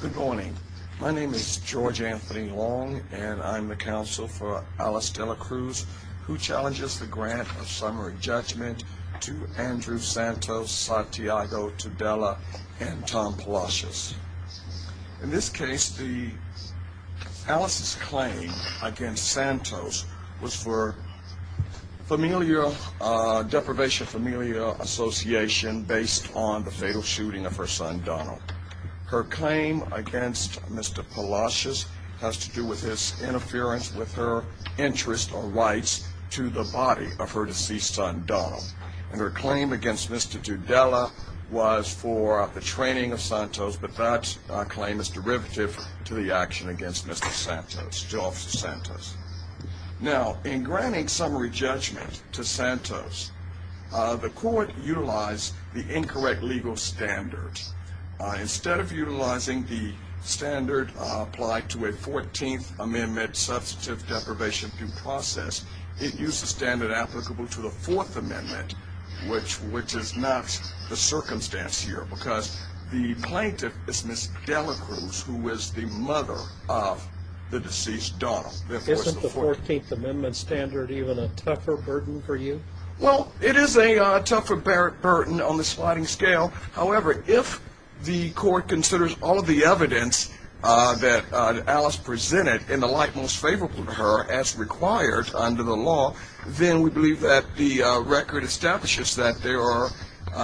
Good morning. My name is George Anthony Long and I'm the counsel for Alice Dela Cruz who challenges the grant of summary judgment to Andrew Santos, Santiago Tudela and Tom Palacios. In this case the Alice's claim against Santos was for familial deprivation, familial association based on the fatal shooting of her son Donald. Her claim against Mr. Palacios has to do with his interference with her interest or rights to the body of her deceased son Donald and her claim against Mr. Tudela was for the training of Santos but that claim is derivative to the action against Mr. Santos, George Santos. Now in granting summary judgment to Santos, the court utilized the incorrect legal standards. Instead of utilizing the standard applied to a 14th Amendment substantive deprivation due process, it used a standard applicable to the Fourth Amendment which is not the circumstance here because the plaintiff is Ms. Dela Cruz who is the mother of the deceased Donald. Isn't the 14th Amendment standard even a tougher burden for you? Well it is a tougher burden on the sliding scale, however if the court considers all of the evidence that Alice presented in the light most favorable to her as required under the law, then we believe that the record establishes that there are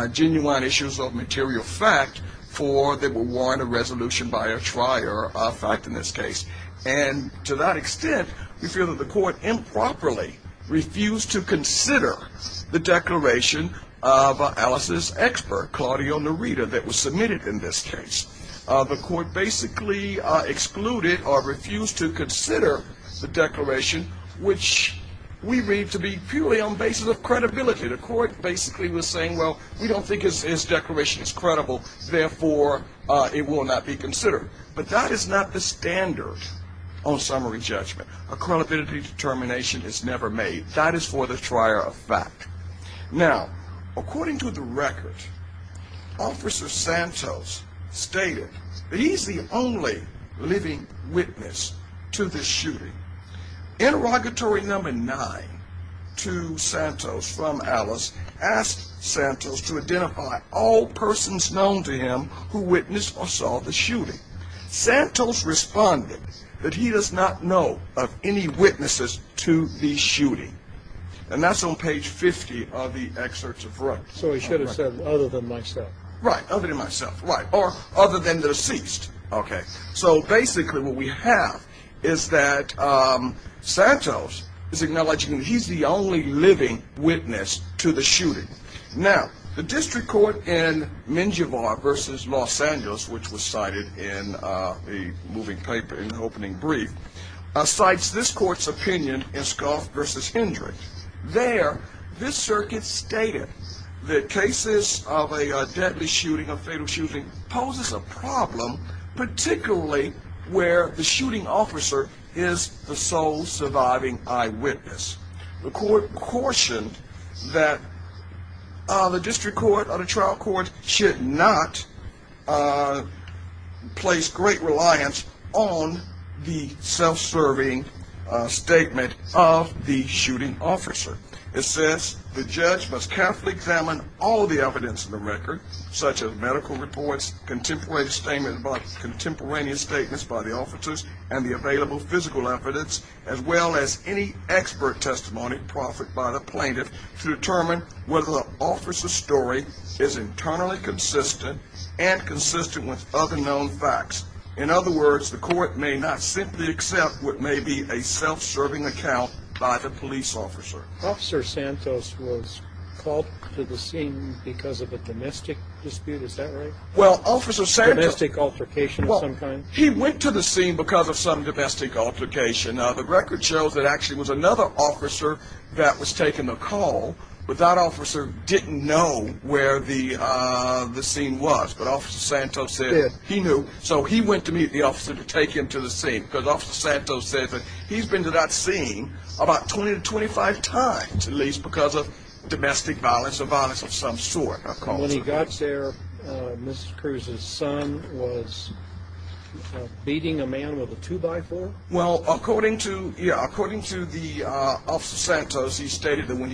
genuine issues of material fact for there were warranted resolution by a trier of fact in this case and to that extent we feel that the court improperly refused to consider the declaration of Alice's expert Claudio Nerida that was submitted in this case. The court basically excluded or refused to consider the declaration which we read to be purely on basis of credibility. The court basically was saying well we don't think his declaration is credible therefore it will not be considered but that is not the standard on summary judgment. A credibility determination is never made. That is for the trier of fact. Now according to the record, Officer Santos stated that he is the only living witness to this shooting. Interrogatory number 9 to Santos from Alice asked Santos to identify all persons known to witness or saw the shooting. Santos responded that he does not know of any witnesses to the shooting and that's on page 50 of the excerpts of right. So he should have said other than myself. Right, other than myself, right, or other than the deceased. Okay, so basically what we have is that Santos is acknowledging he's the only living witness to the shooting. Now the district court in Menjivar versus Los Angeles, which was cited in the moving paper in the opening brief, cites this court's opinion in Skoff versus Hendrick. There this circuit stated that cases of a deadly shooting or fatal shooting poses a problem particularly where the shooting officer is the sole surviving eyewitness. The court or the trial court should not place great reliance on the self-serving statement of the shooting officer. It says the judge must carefully examine all the evidence in the record such as medical reports, contemporaneous statements by the officers and the available physical evidence as well as any expert testimony proffered by the plaintiff to is internally consistent and consistent with other known facts. In other words, the court may not simply accept what may be a self-serving account by the police officer. Officer Santos was called to the scene because of a domestic dispute, is that right? Well, Officer Santos. Domestic altercation of some kind? He went to the scene because of some domestic altercation. The record shows that actually was another officer that was taking the call, but that officer didn't know where the scene was, but Officer Santos said he knew. So he went to meet the officer to take him to the scene because Officer Santos said that he's been to that scene about 20 to 25 times at least because of domestic violence or violence of some sort. When he got there, Mrs. Cruz's son was beating a man with a two-by-four? Well, according to the Officer Santos, he stated that when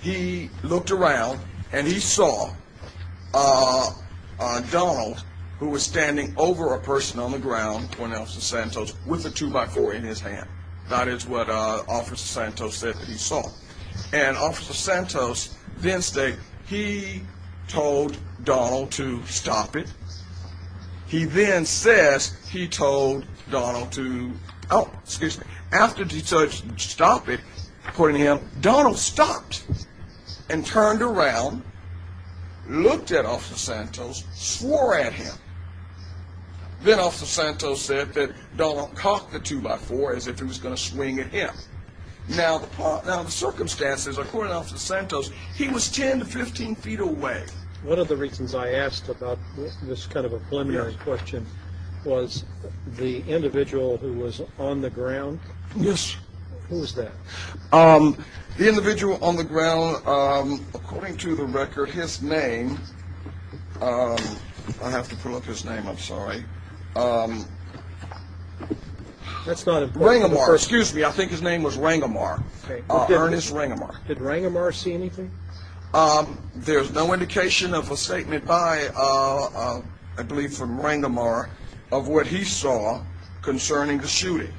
he looked around and he saw Donald who was standing over a person on the ground, according to Officer Santos, with a two-by-four in his hand. That is what Officer Santos said that he saw. And Officer Santos then stated he told Donald to stop it. He then says he told Donald to, oh, excuse me, after he told him to according to him, Donald stopped and turned around, looked at Officer Santos, swore at him. Then Officer Santos said that Donald cocked the two-by-four as if he was going to swing at him. Now the circumstances, according to Officer Santos, he was 10 to 15 feet away. One of the reasons I asked about this kind of a preliminary question was the individual who was on the ground? Yes. Who was that? The individual on the ground, according to the record, his name, I have to pull up his name, I'm sorry. Rangomar, excuse me, I think his name was Rangomar, Ernest Rangomar. Did Rangomar see anything? There's no indication of a statement by, I believe from Rangomar, of what he saw concerning the shooting.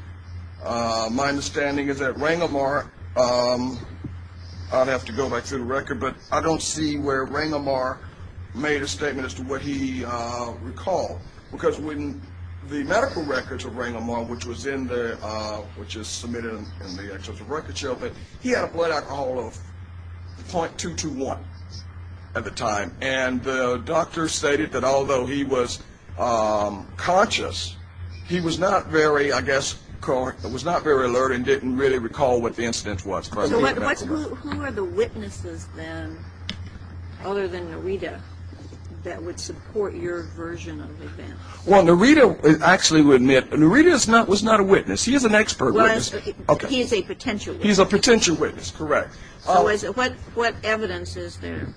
My understanding is that Rangomar, I'd have to go back through the record, but I don't see where Rangomar made a statement as to what he recalled. Because when the medical records of Rangomar, which was in there, which is submitted in the records show, he had a blood alcohol of 0.221 at the time. And the doctor stated that although he was conscious, he was not very, I guess, was not very alert and didn't really recall what the incident was. Who are the witnesses then, other than Narita, that would support your version of events? Well, Narita, I actually would admit, Narita was not a witness. He is an expert. He's a potential witness. He's a potential witness, correct. What evidence is there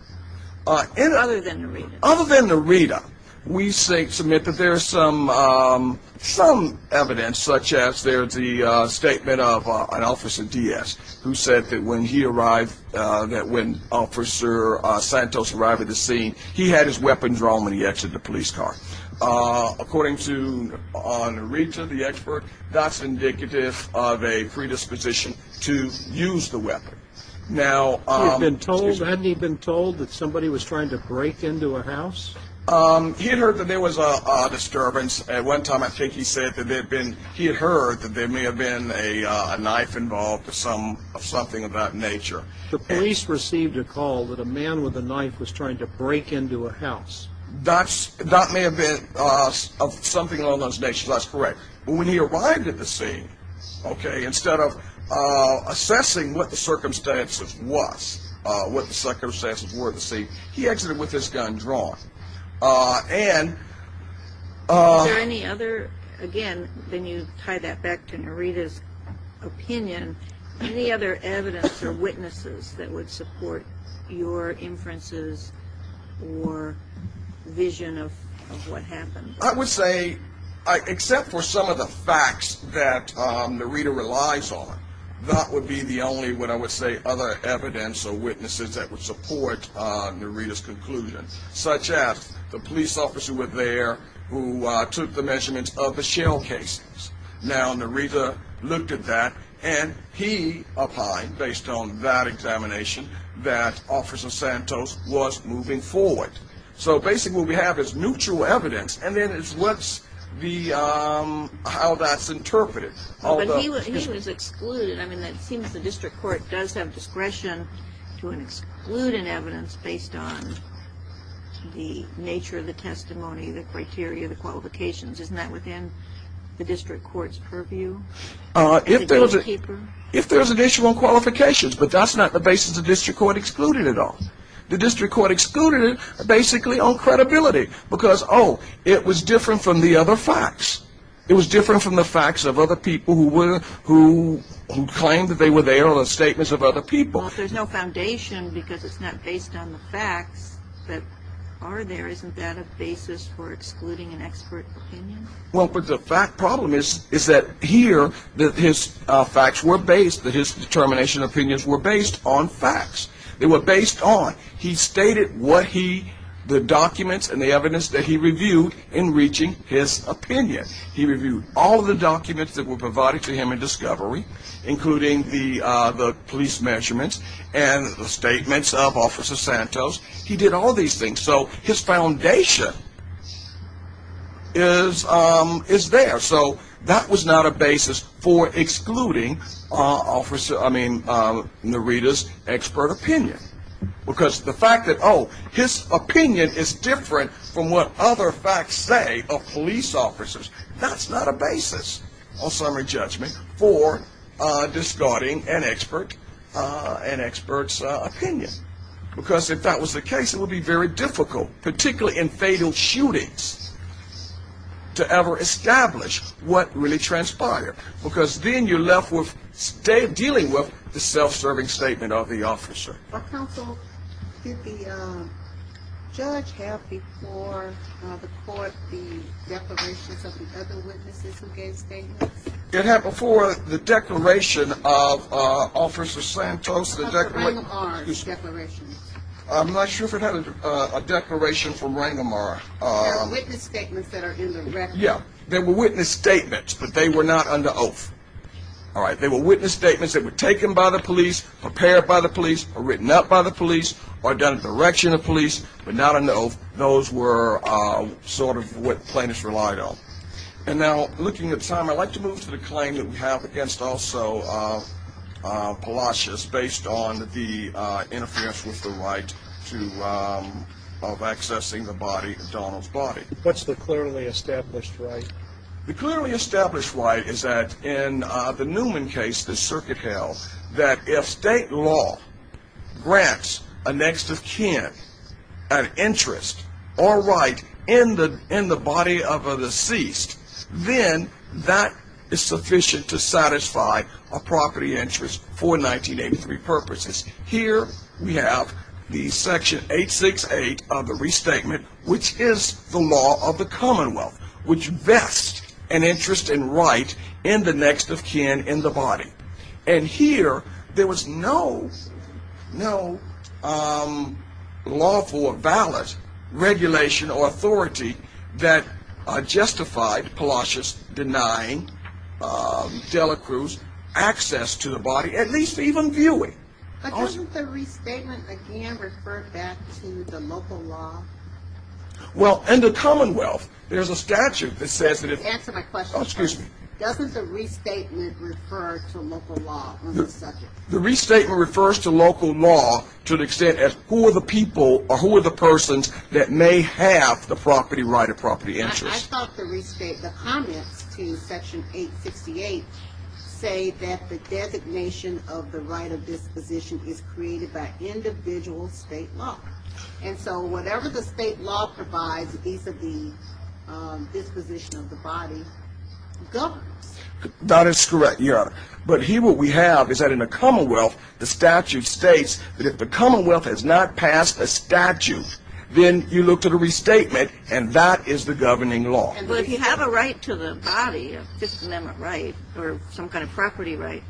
other than Narita? Other than Narita, we submit that there's some evidence, such as there's the statement of an officer DS, who said that when he arrived, that when officer Santos arrived at the scene, he had his weapons wrong when he exited the police car. According to Narita, the expert, that's indicative of a predisposition to use the weapon. Now, he had been told, hadn't he been told that somebody was trying to break into a house? He had heard that there was a disturbance. At one time, I think he said that there had been, he had heard that there may have been a knife involved or something of that nature. The police received a call that a man with a knife was trying to break into a house. That may have been something of those natures. That's correct. But when he arrived at the scene, okay, instead of assessing what the circumstances were at the scene, he exited with his gun drawn. Is there any other, again, then you tie that back to Narita's opinion, any other evidence or witnesses that would support your inferences or vision of what happened? I would say, except for some of the facts that Narita relies on, that would be the only, what I would say, other evidence or witnesses that would support Narita's conclusion, such as the police officer there who took the measurements of the shell cases. Now, Narita looked at that, and he opined, based on that examination, that Officer Santos was moving forward. So basically, what we have is neutral evidence, and then it's what's the, how that's interpreted. But he was excluded. I mean, it seems the District Court does have discretion to exclude an evidence based on the nature of the testimony, the criteria, the qualifications. Isn't that within the District Court's purview? If there's an issue on qualifications, but that's not the basis the District Court excluded it on. The District It was different from the facts of other people who were, who claimed that they were there or the statements of other people. Well, there's no foundation because it's not based on the facts that are there. Isn't that a basis for excluding an expert opinion? Well, but the fact, problem is, is that here, that his facts were based, that his determination opinions were based on facts. They were based on, he stated what he, the documents and the evidence that he reviewed in reaching his opinion. He reviewed all the documents that were provided to him in discovery, including the police measurements and the statements of Officer Santos. He did all these things. So his foundation is there. So that was not a basis for excluding Officer, I mean, Narita's expert opinion. Because the fact that, oh, his opinion is different from what other facts say of police officers. That's not a basis on summary judgment for discarding an expert, an expert's opinion. Because if that was the case, it would be very difficult, particularly in fatal shootings, to ever establish what really transpired. Because then you're left with, dealing with the self-serving statement of the officer. Counsel, did the judge have before the court the declarations of the other witnesses who gave statements? It had before the declaration of Officer Santos, the declaration. Of Rangamarra's declaration. I'm not sure if it had a declaration from Rangamarra. There are witness statements that are in the record. Yeah, there were witness statements, but they were not under oath. All right, there were witness statements that were prepared by the police, or written out by the police, or done at the direction of police, but not under oath. Those were sort of what plaintiffs relied on. And now, looking at time, I'd like to move to the claim that we have against also Palacios, based on the interference with the right to, of accessing the body, Donald's body. What's the clearly established right? The clearly established right is that in the Newman case, the circuit held, that if state law grants a next of kin an interest, or right, in the body of a deceased, then that is sufficient to satisfy a property interest for 1983 purposes. Here we have the section 868 of the restatement, which is the law of the commonwealth, which vests an interest and right in the next of kin in the body. And here, there was no, no lawful or valid regulation or authority that justified Palacios denying Dela Cruz access to the body, at least even viewing. But doesn't the restatement refer back to the local law? Well, in the commonwealth, there's a statute that says that doesn't the restatement refer to local law? The restatement refers to local law to the extent as who are the people or who are the persons that may have the property right of property interest. The comments to section 868 say that the designation of the right of disposition is created by individual state law. And so whatever the state law provides vis-a-vis disposition of the body governs. That is correct, Your Honor. But here what we have is that in the commonwealth, the statute states that if the commonwealth has not passed a statute, then you look to the restatement, and that is the governing law. But if you have a right to the body, Fifth Amendment right, or some kind of property right,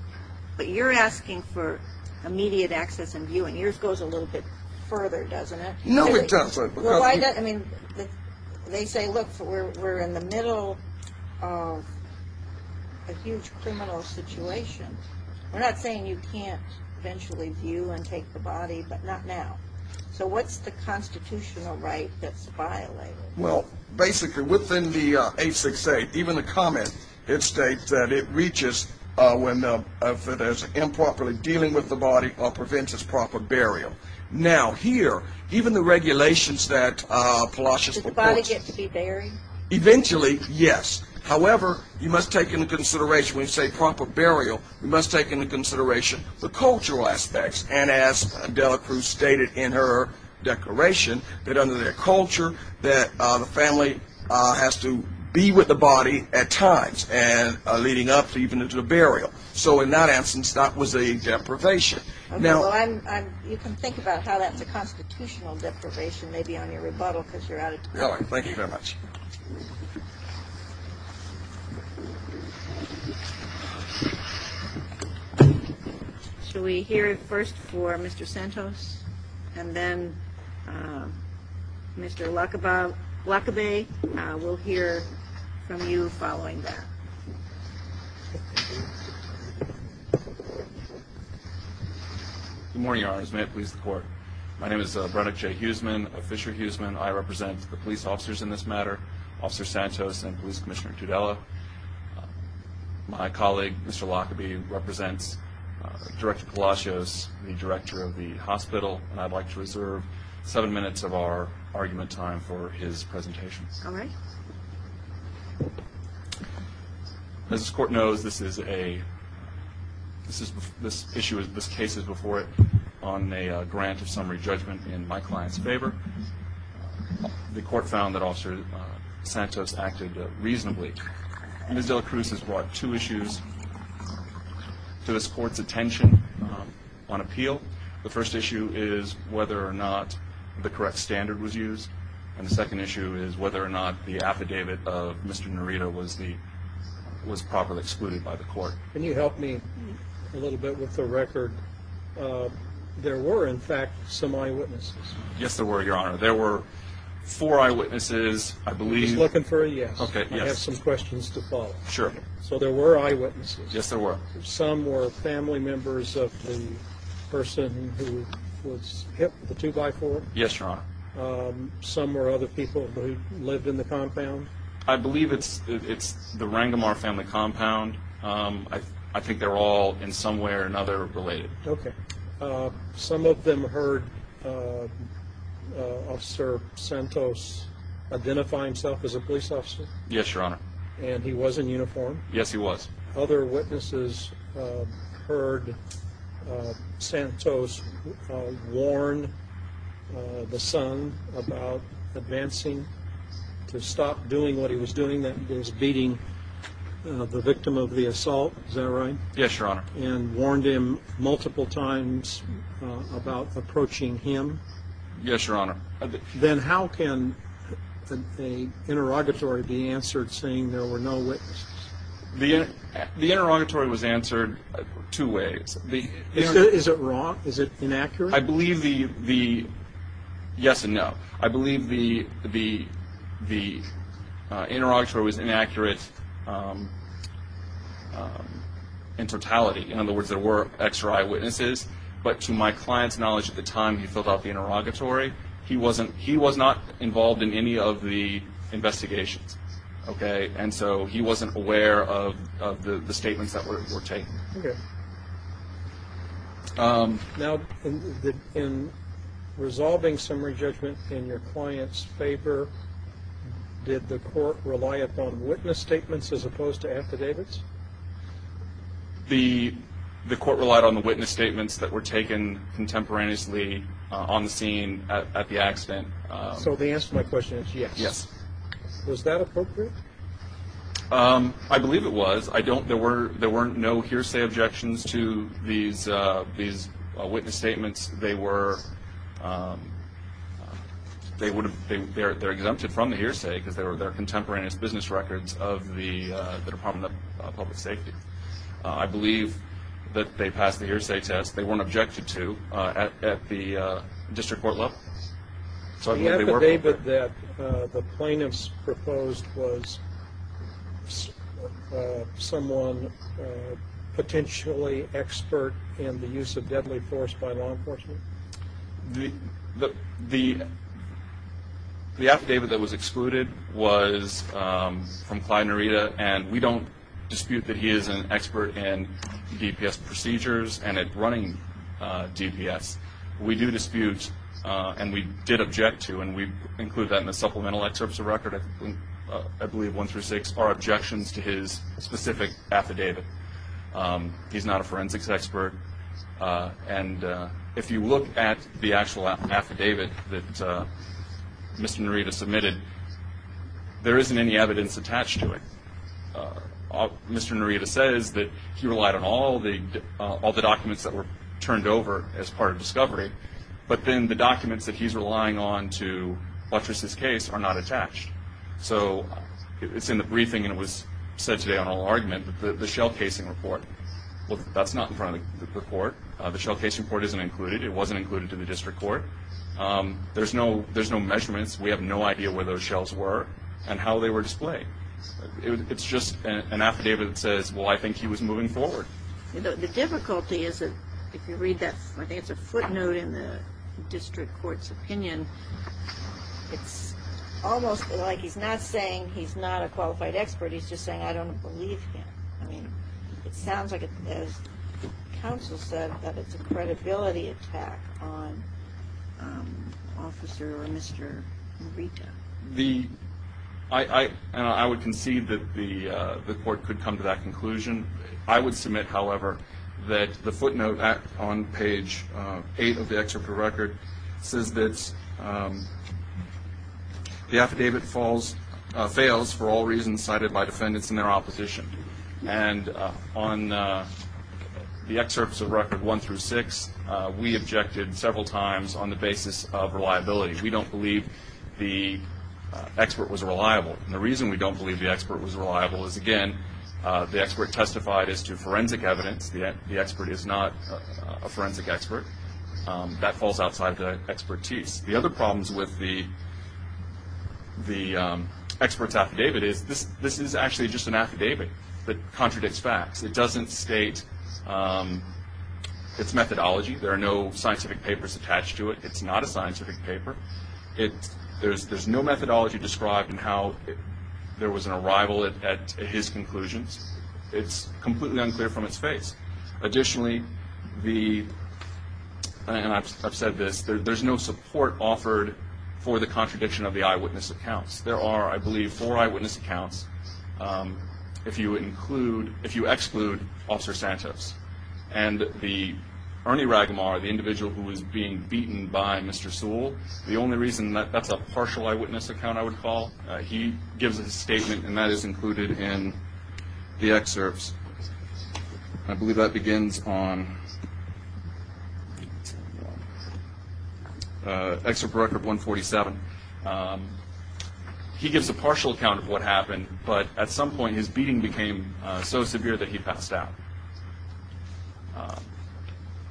but you're asking for immediate access and viewing. Yours goes a little bit further, doesn't it? No, it doesn't. They say, look, we're in the middle of a huge criminal situation. We're not saying you can't eventually view and take the body, but not now. So what's the constitutional right that's violated? Well, basically within the 868, even the comment, it states that it reaches when if it is improperly dealing with the body or prevents its proper burial. Now here, even the regulations that Palacios proposed. Does the body get to be buried? Eventually, yes. However, you must take into consideration when you say proper burial, you must take into consideration the cultural aspects. And as Adela Cruz stated in her declaration, that under their culture, that the family has to be with the body at times, and leading up even into the burial. So in that instance, that was a deprivation. You can think about how that's a constitutional deprivation, maybe on your rebuttal, because you're out of time. Thank you very much. So we hear it first for Mr. Santos, and then Mr. Lacobay. We'll hear from you following that. Good morning, Your Honors. May it please the court. My name is Brett J. Huseman, a Fisher Huseman. I represent the police officers in this matter, Officer Santos and Police Commissioner Tudela. My colleague, Mr. Lacobay, represents Director Palacios, the director of the hospital, and I'd like to reserve seven minutes of our argument time for his presentation. As this court knows, this is a, this issue, this case is before it on a grant of summary judgment in my client's favor. The court found that Officer Santos acted reasonably. Ms. Dela Cruz has brought two issues to this court's attention on appeal. The first issue is whether or not the correct standard was used, and the second issue is whether or not the affidavit of Mr. Nerita was the, was properly excluded by the court. Can you help me a little bit with the record? Um, there were, in fact, some eyewitnesses. Yes, there were, Your Honor. There were four eyewitnesses, I believe. He's looking for a yes. Okay, yes. I have some questions to follow. Sure. So there were eyewitnesses. Yes, there were. Some were family members of the person who was hit with a two-by-four. Yes, Your Honor. Um, some were other people who lived in the compound. I believe it's, it's the Rangemar family compound. Um, I, I think they're all in some way or another related. Okay. Uh, some of them heard, uh, uh, Officer Santos identify himself as a police officer. Yes, Your Honor. And he was in uniform? Yes, he was. Other witnesses, uh, heard, uh, Santos, uh, warn, uh, the son about advancing to stop doing what he was doing, that is beating, uh, the victim of the assault. Is that right? Yes, Your Honor. And warned him multiple times, uh, about approaching him? Yes, Your Honor. Then how can the interrogatory be answered saying there were no witnesses? The, the interrogatory was answered two ways. Is it, is it wrong? Is it inaccurate? I believe the, the, yes and no. I believe the, the, the, uh, there was inaccurate, um, um, in totality. In other words, there were X-ray eyewitnesses, but to my client's knowledge at the time he filled out the interrogatory, he wasn't, he was not involved in any of the investigations. Okay. And so he wasn't aware of, of the, the statements that were, were taken. Okay. Um, now, in the, in resolving summary judgment in your client's favor, did the court rely upon witness statements as opposed to affidavits? The, the court relied on the witness statements that were taken contemporaneously, uh, on the scene at, at the accident. Uh, so the answer to my question is yes. Yes. Was that appropriate? Um, I believe it was. I don't, there were, there weren't no hearsay objections to these, uh, witness statements. They were, um, they would have, they're, they're exempted from the hearsay because they were their contemporaneous business records of the, uh, the Department of Public Safety. Uh, I believe that they passed the hearsay test. They weren't objected to, uh, at, at the, uh, district court level. So I believe they were. The affidavit that, uh, the plaintiff's proposed was, uh, someone, uh, potentially expert in the use of deadly force by law enforcement? The, the, the, the affidavit that was excluded was, um, from Clyde Nerita and we don't dispute that he is an expert in DPS procedures and at running, uh, DPS. We do dispute, uh, and we did object to, and we include that in the supplemental excerpts of record, I believe one through six are objections to his specific affidavit. Um, he's not a forensics expert. Uh, and, uh, if you look at the actual affidavit that, uh, Mr. Nerita submitted, there isn't any evidence attached to it. Uh, Mr. Nerita says that he relied on all the, uh, all the documents that were turned over as part of discovery, but then the documents that he's relying on to buttress his case are not attached. So it's in the briefing and it was said today on all argument, but the shell casing report, well, that's not in front of the court. Uh, the shell casing report isn't included. It wasn't included to the district court. Um, there's no, there's no measurements. We have no idea where those shells were and how they were displayed. It's just an affidavit that says, well, I think he was moving forward. The difficulty is that if you read that, I think it's a footnote in the district court's opinion. It's almost like he's not saying he's not a qualified expert. He's just saying, I don't believe him. I mean, it sounds like, as counsel said, that it's a credibility attack on, um, officer or Mr. Nerita. The, I, I, and I would concede that the, uh, the court could come to that conclusion. I would submit, however, that the footnote on page, uh, eight of the excerpt of the record says that, um, the affidavit falls, uh, fails for all reasons cited by defendants and their opposition. And, uh, on, uh, the excerpts of record one through six, uh, we objected several times on the basis of reliability. We don't believe the, uh, expert was reliable. And the reason we don't believe the expert was reliable is, again, uh, the expert testified as to forensic evidence. The, the expert is not a forensic expert. Um, that falls outside the expertise. The other problems with the, the, um, expert's affidavit is this, this is actually just an affidavit that contradicts facts. It doesn't state, um, its methodology. There are no scientific papers attached to it. It's not a scientific paper. It, there's, there's no methodology described in how there was an arrival at, at his conclusions. It's completely unclear from its face. Additionally, the, and I've, I've said this, there, there's no support offered for the contradiction of the eyewitness accounts. There are, I believe, four eyewitness accounts, um, if you include, if you exclude Officer Santos and the, Ernie Ragamar, the individual who was being beaten by Mr. Sewell. The only reason that, that's a partial eyewitness account I would call, uh, he gives a statement and that is included in the excerpts. I believe that begins on, uh, Excerpt Record 147. Um, he gives a partial account of what happened, but at some point his beating became, uh, so severe that he passed out. Um,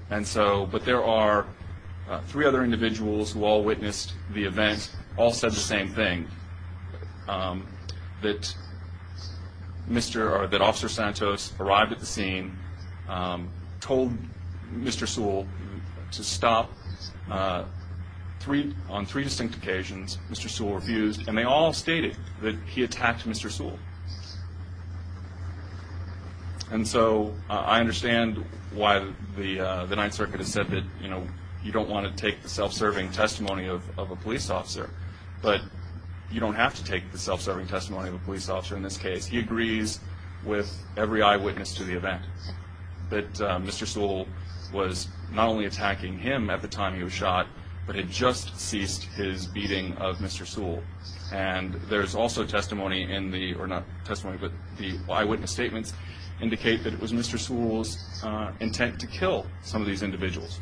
and so, but there are, uh, three other individuals who all witnessed the events all said the same thing, um, that Mr., or that Officer Santos arrived at the scene, um, told Mr. Sewell to stop, uh, three, on three distinct occasions, Mr. Sewell refused, and they all you know, you don't want to take the self-serving testimony of, of a police officer, but you don't have to take the self-serving testimony of a police officer in this case. He agrees with every eyewitness to the event that, uh, Mr. Sewell was not only attacking him at the time he was shot, but had just ceased his beating of Mr. Sewell. And there's also testimony in the, or not testimony, but the eyewitness statements indicate that it was Mr. Sewell's, uh, intent to kill some of these individuals.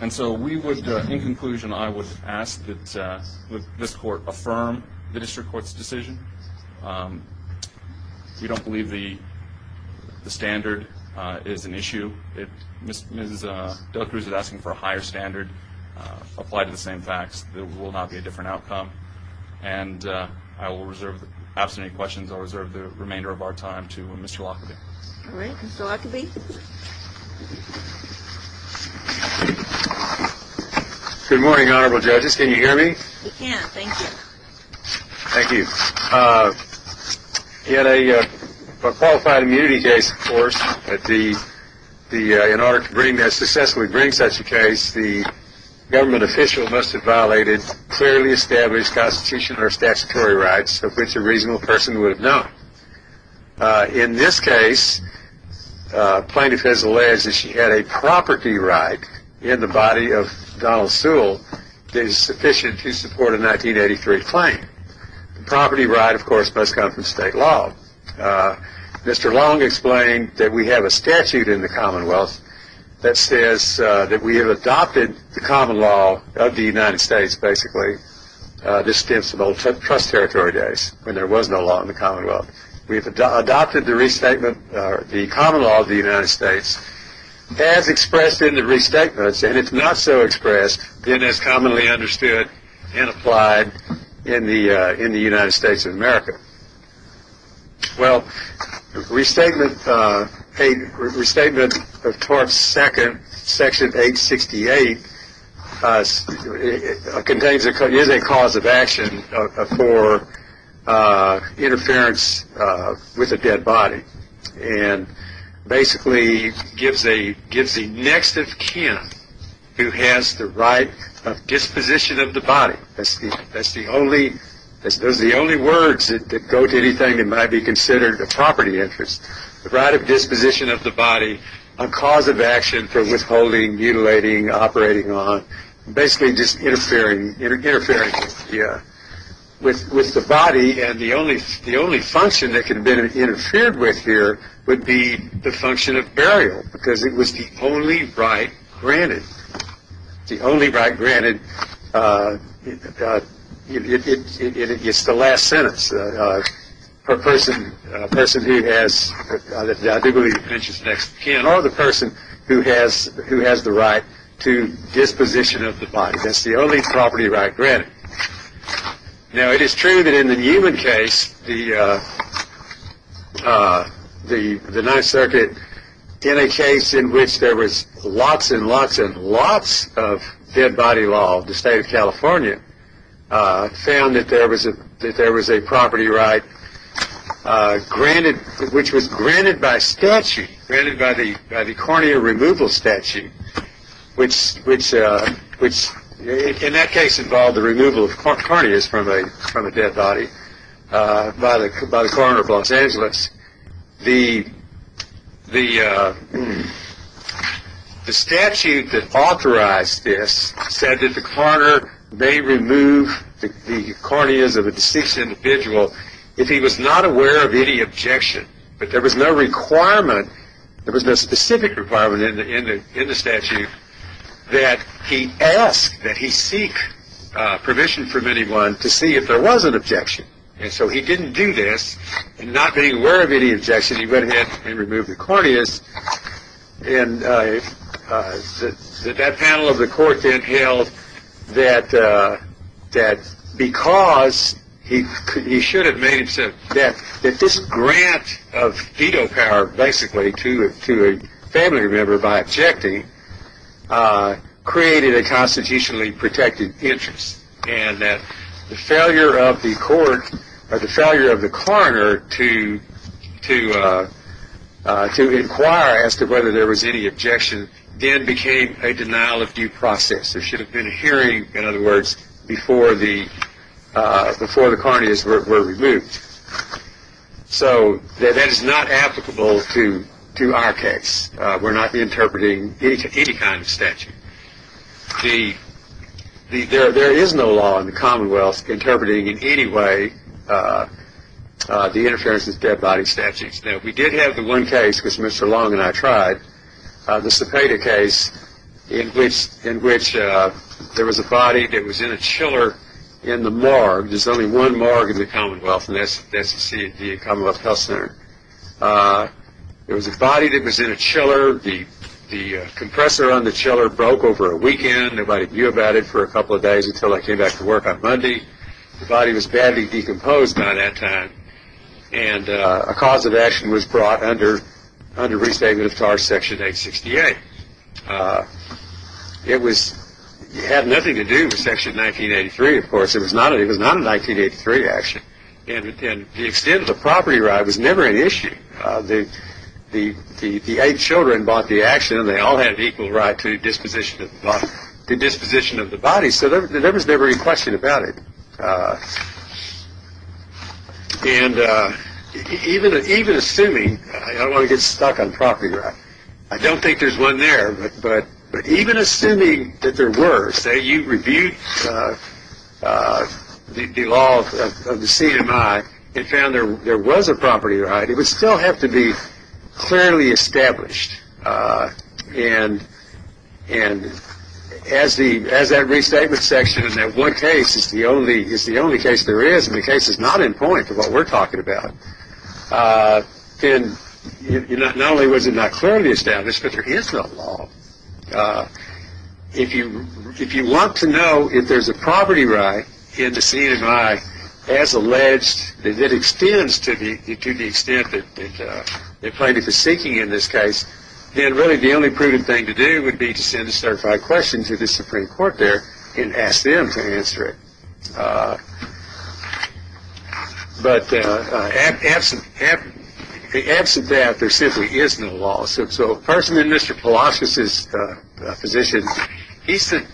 And so we would, uh, in conclusion, I would ask that, uh, that this Court affirm the District Court's decision. Um, we don't believe the, the standard, uh, is an issue. It, Ms., Ms., uh, Dela Cruz is asking for a higher standard, uh, applied to the same facts. There will not be a different outcome. And, uh, I will reserve the remainder of our time to, uh, Mr. Lockerbie. All right. Mr. Lockerbie? Good morning, Honorable Judges. Can you hear me? We can. Thank you. Thank you. Uh, in a, uh, a qualified immunity case, of course, that the, the, uh, in order to bring, to successfully bring such a case, the government official must have violated clearly established constitution or statutory rights of which a reasonable person would have known. Uh, in this case, uh, plaintiff has alleged that she had a property right in the body of Donald Sewell that is sufficient to support a 1983 claim. The property right, of course, must come from state law. Uh, Mr. Long explained that we have a statute in the Commonwealth that says, uh, that we have adopted the common law of the United States, basically. Uh, this stems from old trust territory days when there was no law in the Commonwealth. We've adopted the restatement, uh, the common law of the United States as expressed in the restatements. And it's not so expressed in as commonly understood and applied in the, uh, in the United States of America. Well, restatement, uh, a restatement of TARP's second section 868, uh, contains a, is a cause of action, uh, for, uh, interference, uh, with a dead body. And basically gives a, gives the next of kin who has the right of disposition of the body. That's the, that's the only, those are the only words that, that go to anything that might be considered a property interest. The right of disposition of the body, a cause of action for withholding, mutilating, operating on, basically just interfering, interfering with the, uh, with, with the body. And the only, the only function that could have been interfered with here would be the function of burial because it was the only right granted. The only right granted, uh, uh, it, it, it, it, it's the last sentence, uh, uh, per person, a person who has, uh, that, uh, interference with the next of kin or the person who has, who has the right to disposition of the body. That's the only property right granted. Now, it is true that in the Newman case, the, uh, uh, the, the Ninth Circuit, in a case in which there was lots and lots and lots of dead body law, the state of California, uh, found that there was a, that there was a property right, uh, granted, which was granted by statute, granted by the, by the cornea removal statute, which, which, uh, which in that case involved the removal of corneas from a, from a dead body, uh, by the, by the The statute that authorized this said that the coroner may remove the, the corneas of a deceased individual if he was not aware of any objection. But there was no requirement, there was no specific requirement in the, in the, in the statute that he ask, that he seek, uh, permission from anyone to see if there was an objection. And so he didn't do this, and not being aware of any objection, he went ahead and removed the corneas, and, uh, uh, that, that panel of the court then held that, uh, that because he, he should have made himself, that, that this grant of veto power, basically, to, to a family member by objecting, uh, created a constitutionally protected interest, and that the failure of the court, or the failure of the coroner to, to, uh, uh, to inquire as to whether there was any objection then became a denial of due process. There should have been a hearing, in other words, before the, uh, before the corneas were, were removed. So that, that is not applicable to, to our case. Uh, we're not interpreting any, any kind of statute. The, the, there, there is no law in the commonwealth interpreting in any way, uh, uh, the interference with dead body statutes. Now, we did have the one case, which Mr. Long and I tried, uh, the Cepeda case, in which, in which, uh, there was a body that was in a chiller in the morgue. There's only one morgue in the commonwealth, and that's, that's the, the commonwealth health center. Uh, there was a body that was in a chiller. The, the, uh, compressor on the chiller broke over a weekend. Nobody knew about it for a couple of days until I came back to work on Monday. The body was badly decomposed by that time, and, uh, a cause of action was brought under, under restatement of charge section 868. Uh, it was, it had nothing to do with section 1983, of course. It was not, it was not a 1983 action, and, and the extent of the property right was never an issue. Uh, the, the, the, the eight children bought the action, and they all had equal right to disposition of, to disposition of the body, so there, there was never any question about it. Uh, and, uh, even, even assuming, I don't want to get stuck on property right. I don't think there's one there, but, but, but even assuming that there were, say you reviewed, uh, uh, the, the law of the CMI and found there, there was a property right, it would still have to be clearly established. Uh, and, and as the, as that restatement section in that one case is the only, is the only case there is, and the case is not in point to what we're talking about. Uh, and not, not only was it not clearly established, but there is no law. Uh, if you, if you want to know if there's a property right in the CMI as alleged, that extends to the, to the extent that, that, uh, that plaintiff is seeking in this case, then really the only proven thing to do would be to send a certified question to the Supreme Court there and ask them to answer it. Uh, but, uh, absent, absent, absent that, there simply is no law. So, so a person in Mr. Palacios' position, he's the,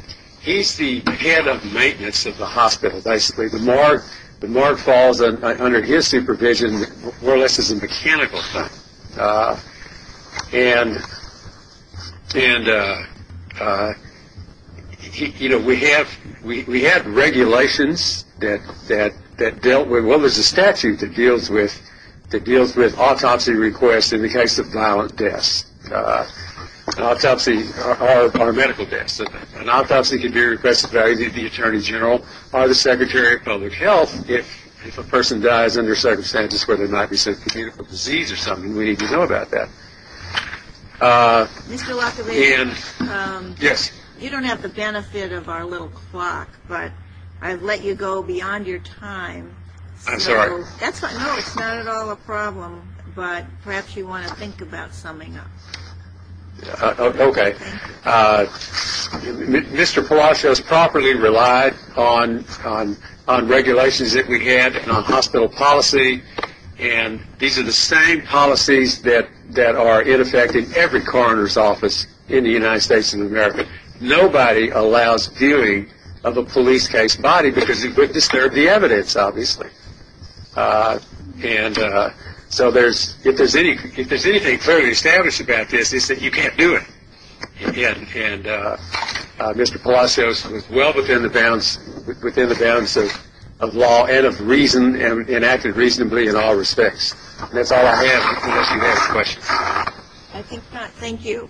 he's the head of maintenance of the hospital basically. The more, the more falls under his supervision, more or less is a mechanical thing. Uh, and, and, uh, uh, you know, we have, we have regulations that, that, that dealt with, well there's a statute that deals with, that deals with autopsy requests in the case of violent deaths. Uh, autopsies are, are medical deaths. An autopsy can be requested by the Attorney General or the Secretary of Public Health if, if a person dies under circumstances where there might be some communicable disease or something. We need to know about that. Uh, and. Mr. LaCovette. Yes. You don't have the benefit of our little clock, but I've let you go beyond your time. I'm sorry. That's not, no, it's not at all a problem, but perhaps you want to think about summing up. Uh, okay. Uh, Mr. Palacios properly relied on, on, on regulations that we had and on hospital policy. And these are the same policies that, that are in effect in every coroner's office in the United States of America. Nobody allows viewing of a police case body because it would disturb the evidence, obviously. Uh, and, uh, so there's, if there's any, if there's anything clearly established about this is that you can't do it. And, and, uh, uh, Mr. Palacios was well within the bounds, within the bounds of, of law and of reason and acted reasonably in all respects. And that's all I have unless you have questions. I think not. Thank you.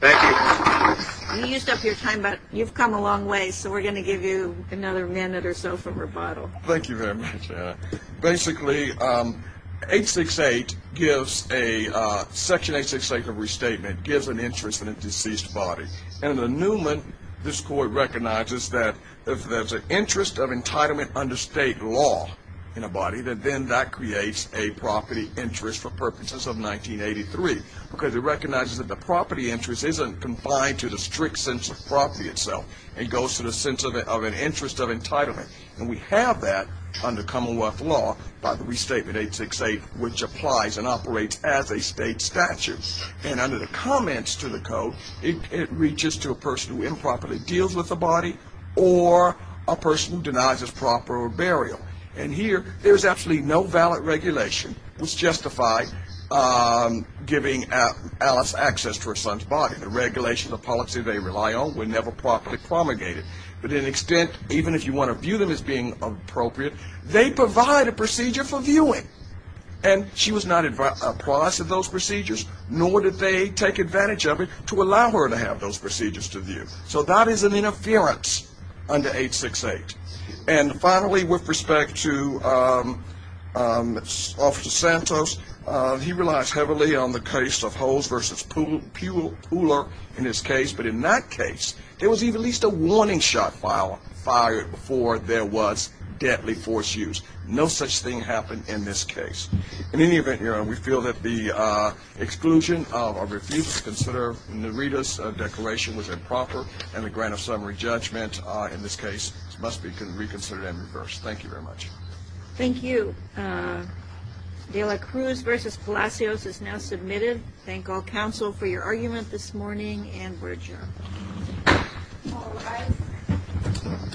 Thank you. You used up your time, but you've come a long way, so we're going to give you another minute or so for rebuttal. Thank you very much. Uh, basically, um, 868 gives a, uh, Section 868 of restatement gives an interest in a deceased body. And in the Newman, this court recognizes that if there's an interest of entitlement under state law in a body, that then that creates a property interest for purposes of 1983. Because it recognizes that the property interest isn't combined to the strict sense of property itself. It goes to the sense of an interest of entitlement. And we have that under Commonwealth law by the Restatement 868, which applies and operates as a state statute. And under the comments to the code, it, it reaches to a person who improperly deals with the body or a person who denies his proper burial. And here, there's absolutely no valid regulation that's justified, um, giving Alice access to her son's body. The regulations of policy they rely on were never properly promulgated. But to an extent, even if you want to view them as being appropriate, they provide a procedure for viewing. And she was not apprised of those procedures, nor did they take advantage of it to allow her to have those procedures to view. So that is an interference under 868. And finally, with respect to, um, um, Officer Santos, um, he relies heavily on the case of Holes v. Pooler in his case. But in that case, there was at least a warning shot fired before there was deadly force use. No such thing happened in this case. In any event, we feel that the, uh, exclusion of or refusal to consider Narita's declaration was improper, and the grant of summary judgment, uh, in this case must be reconsidered and reversed. Thank you very much. Thank you. Uh, de la Cruz v. Palacios is now submitted. Thank all counsel for your argument this morning, and we're adjourned. All rise.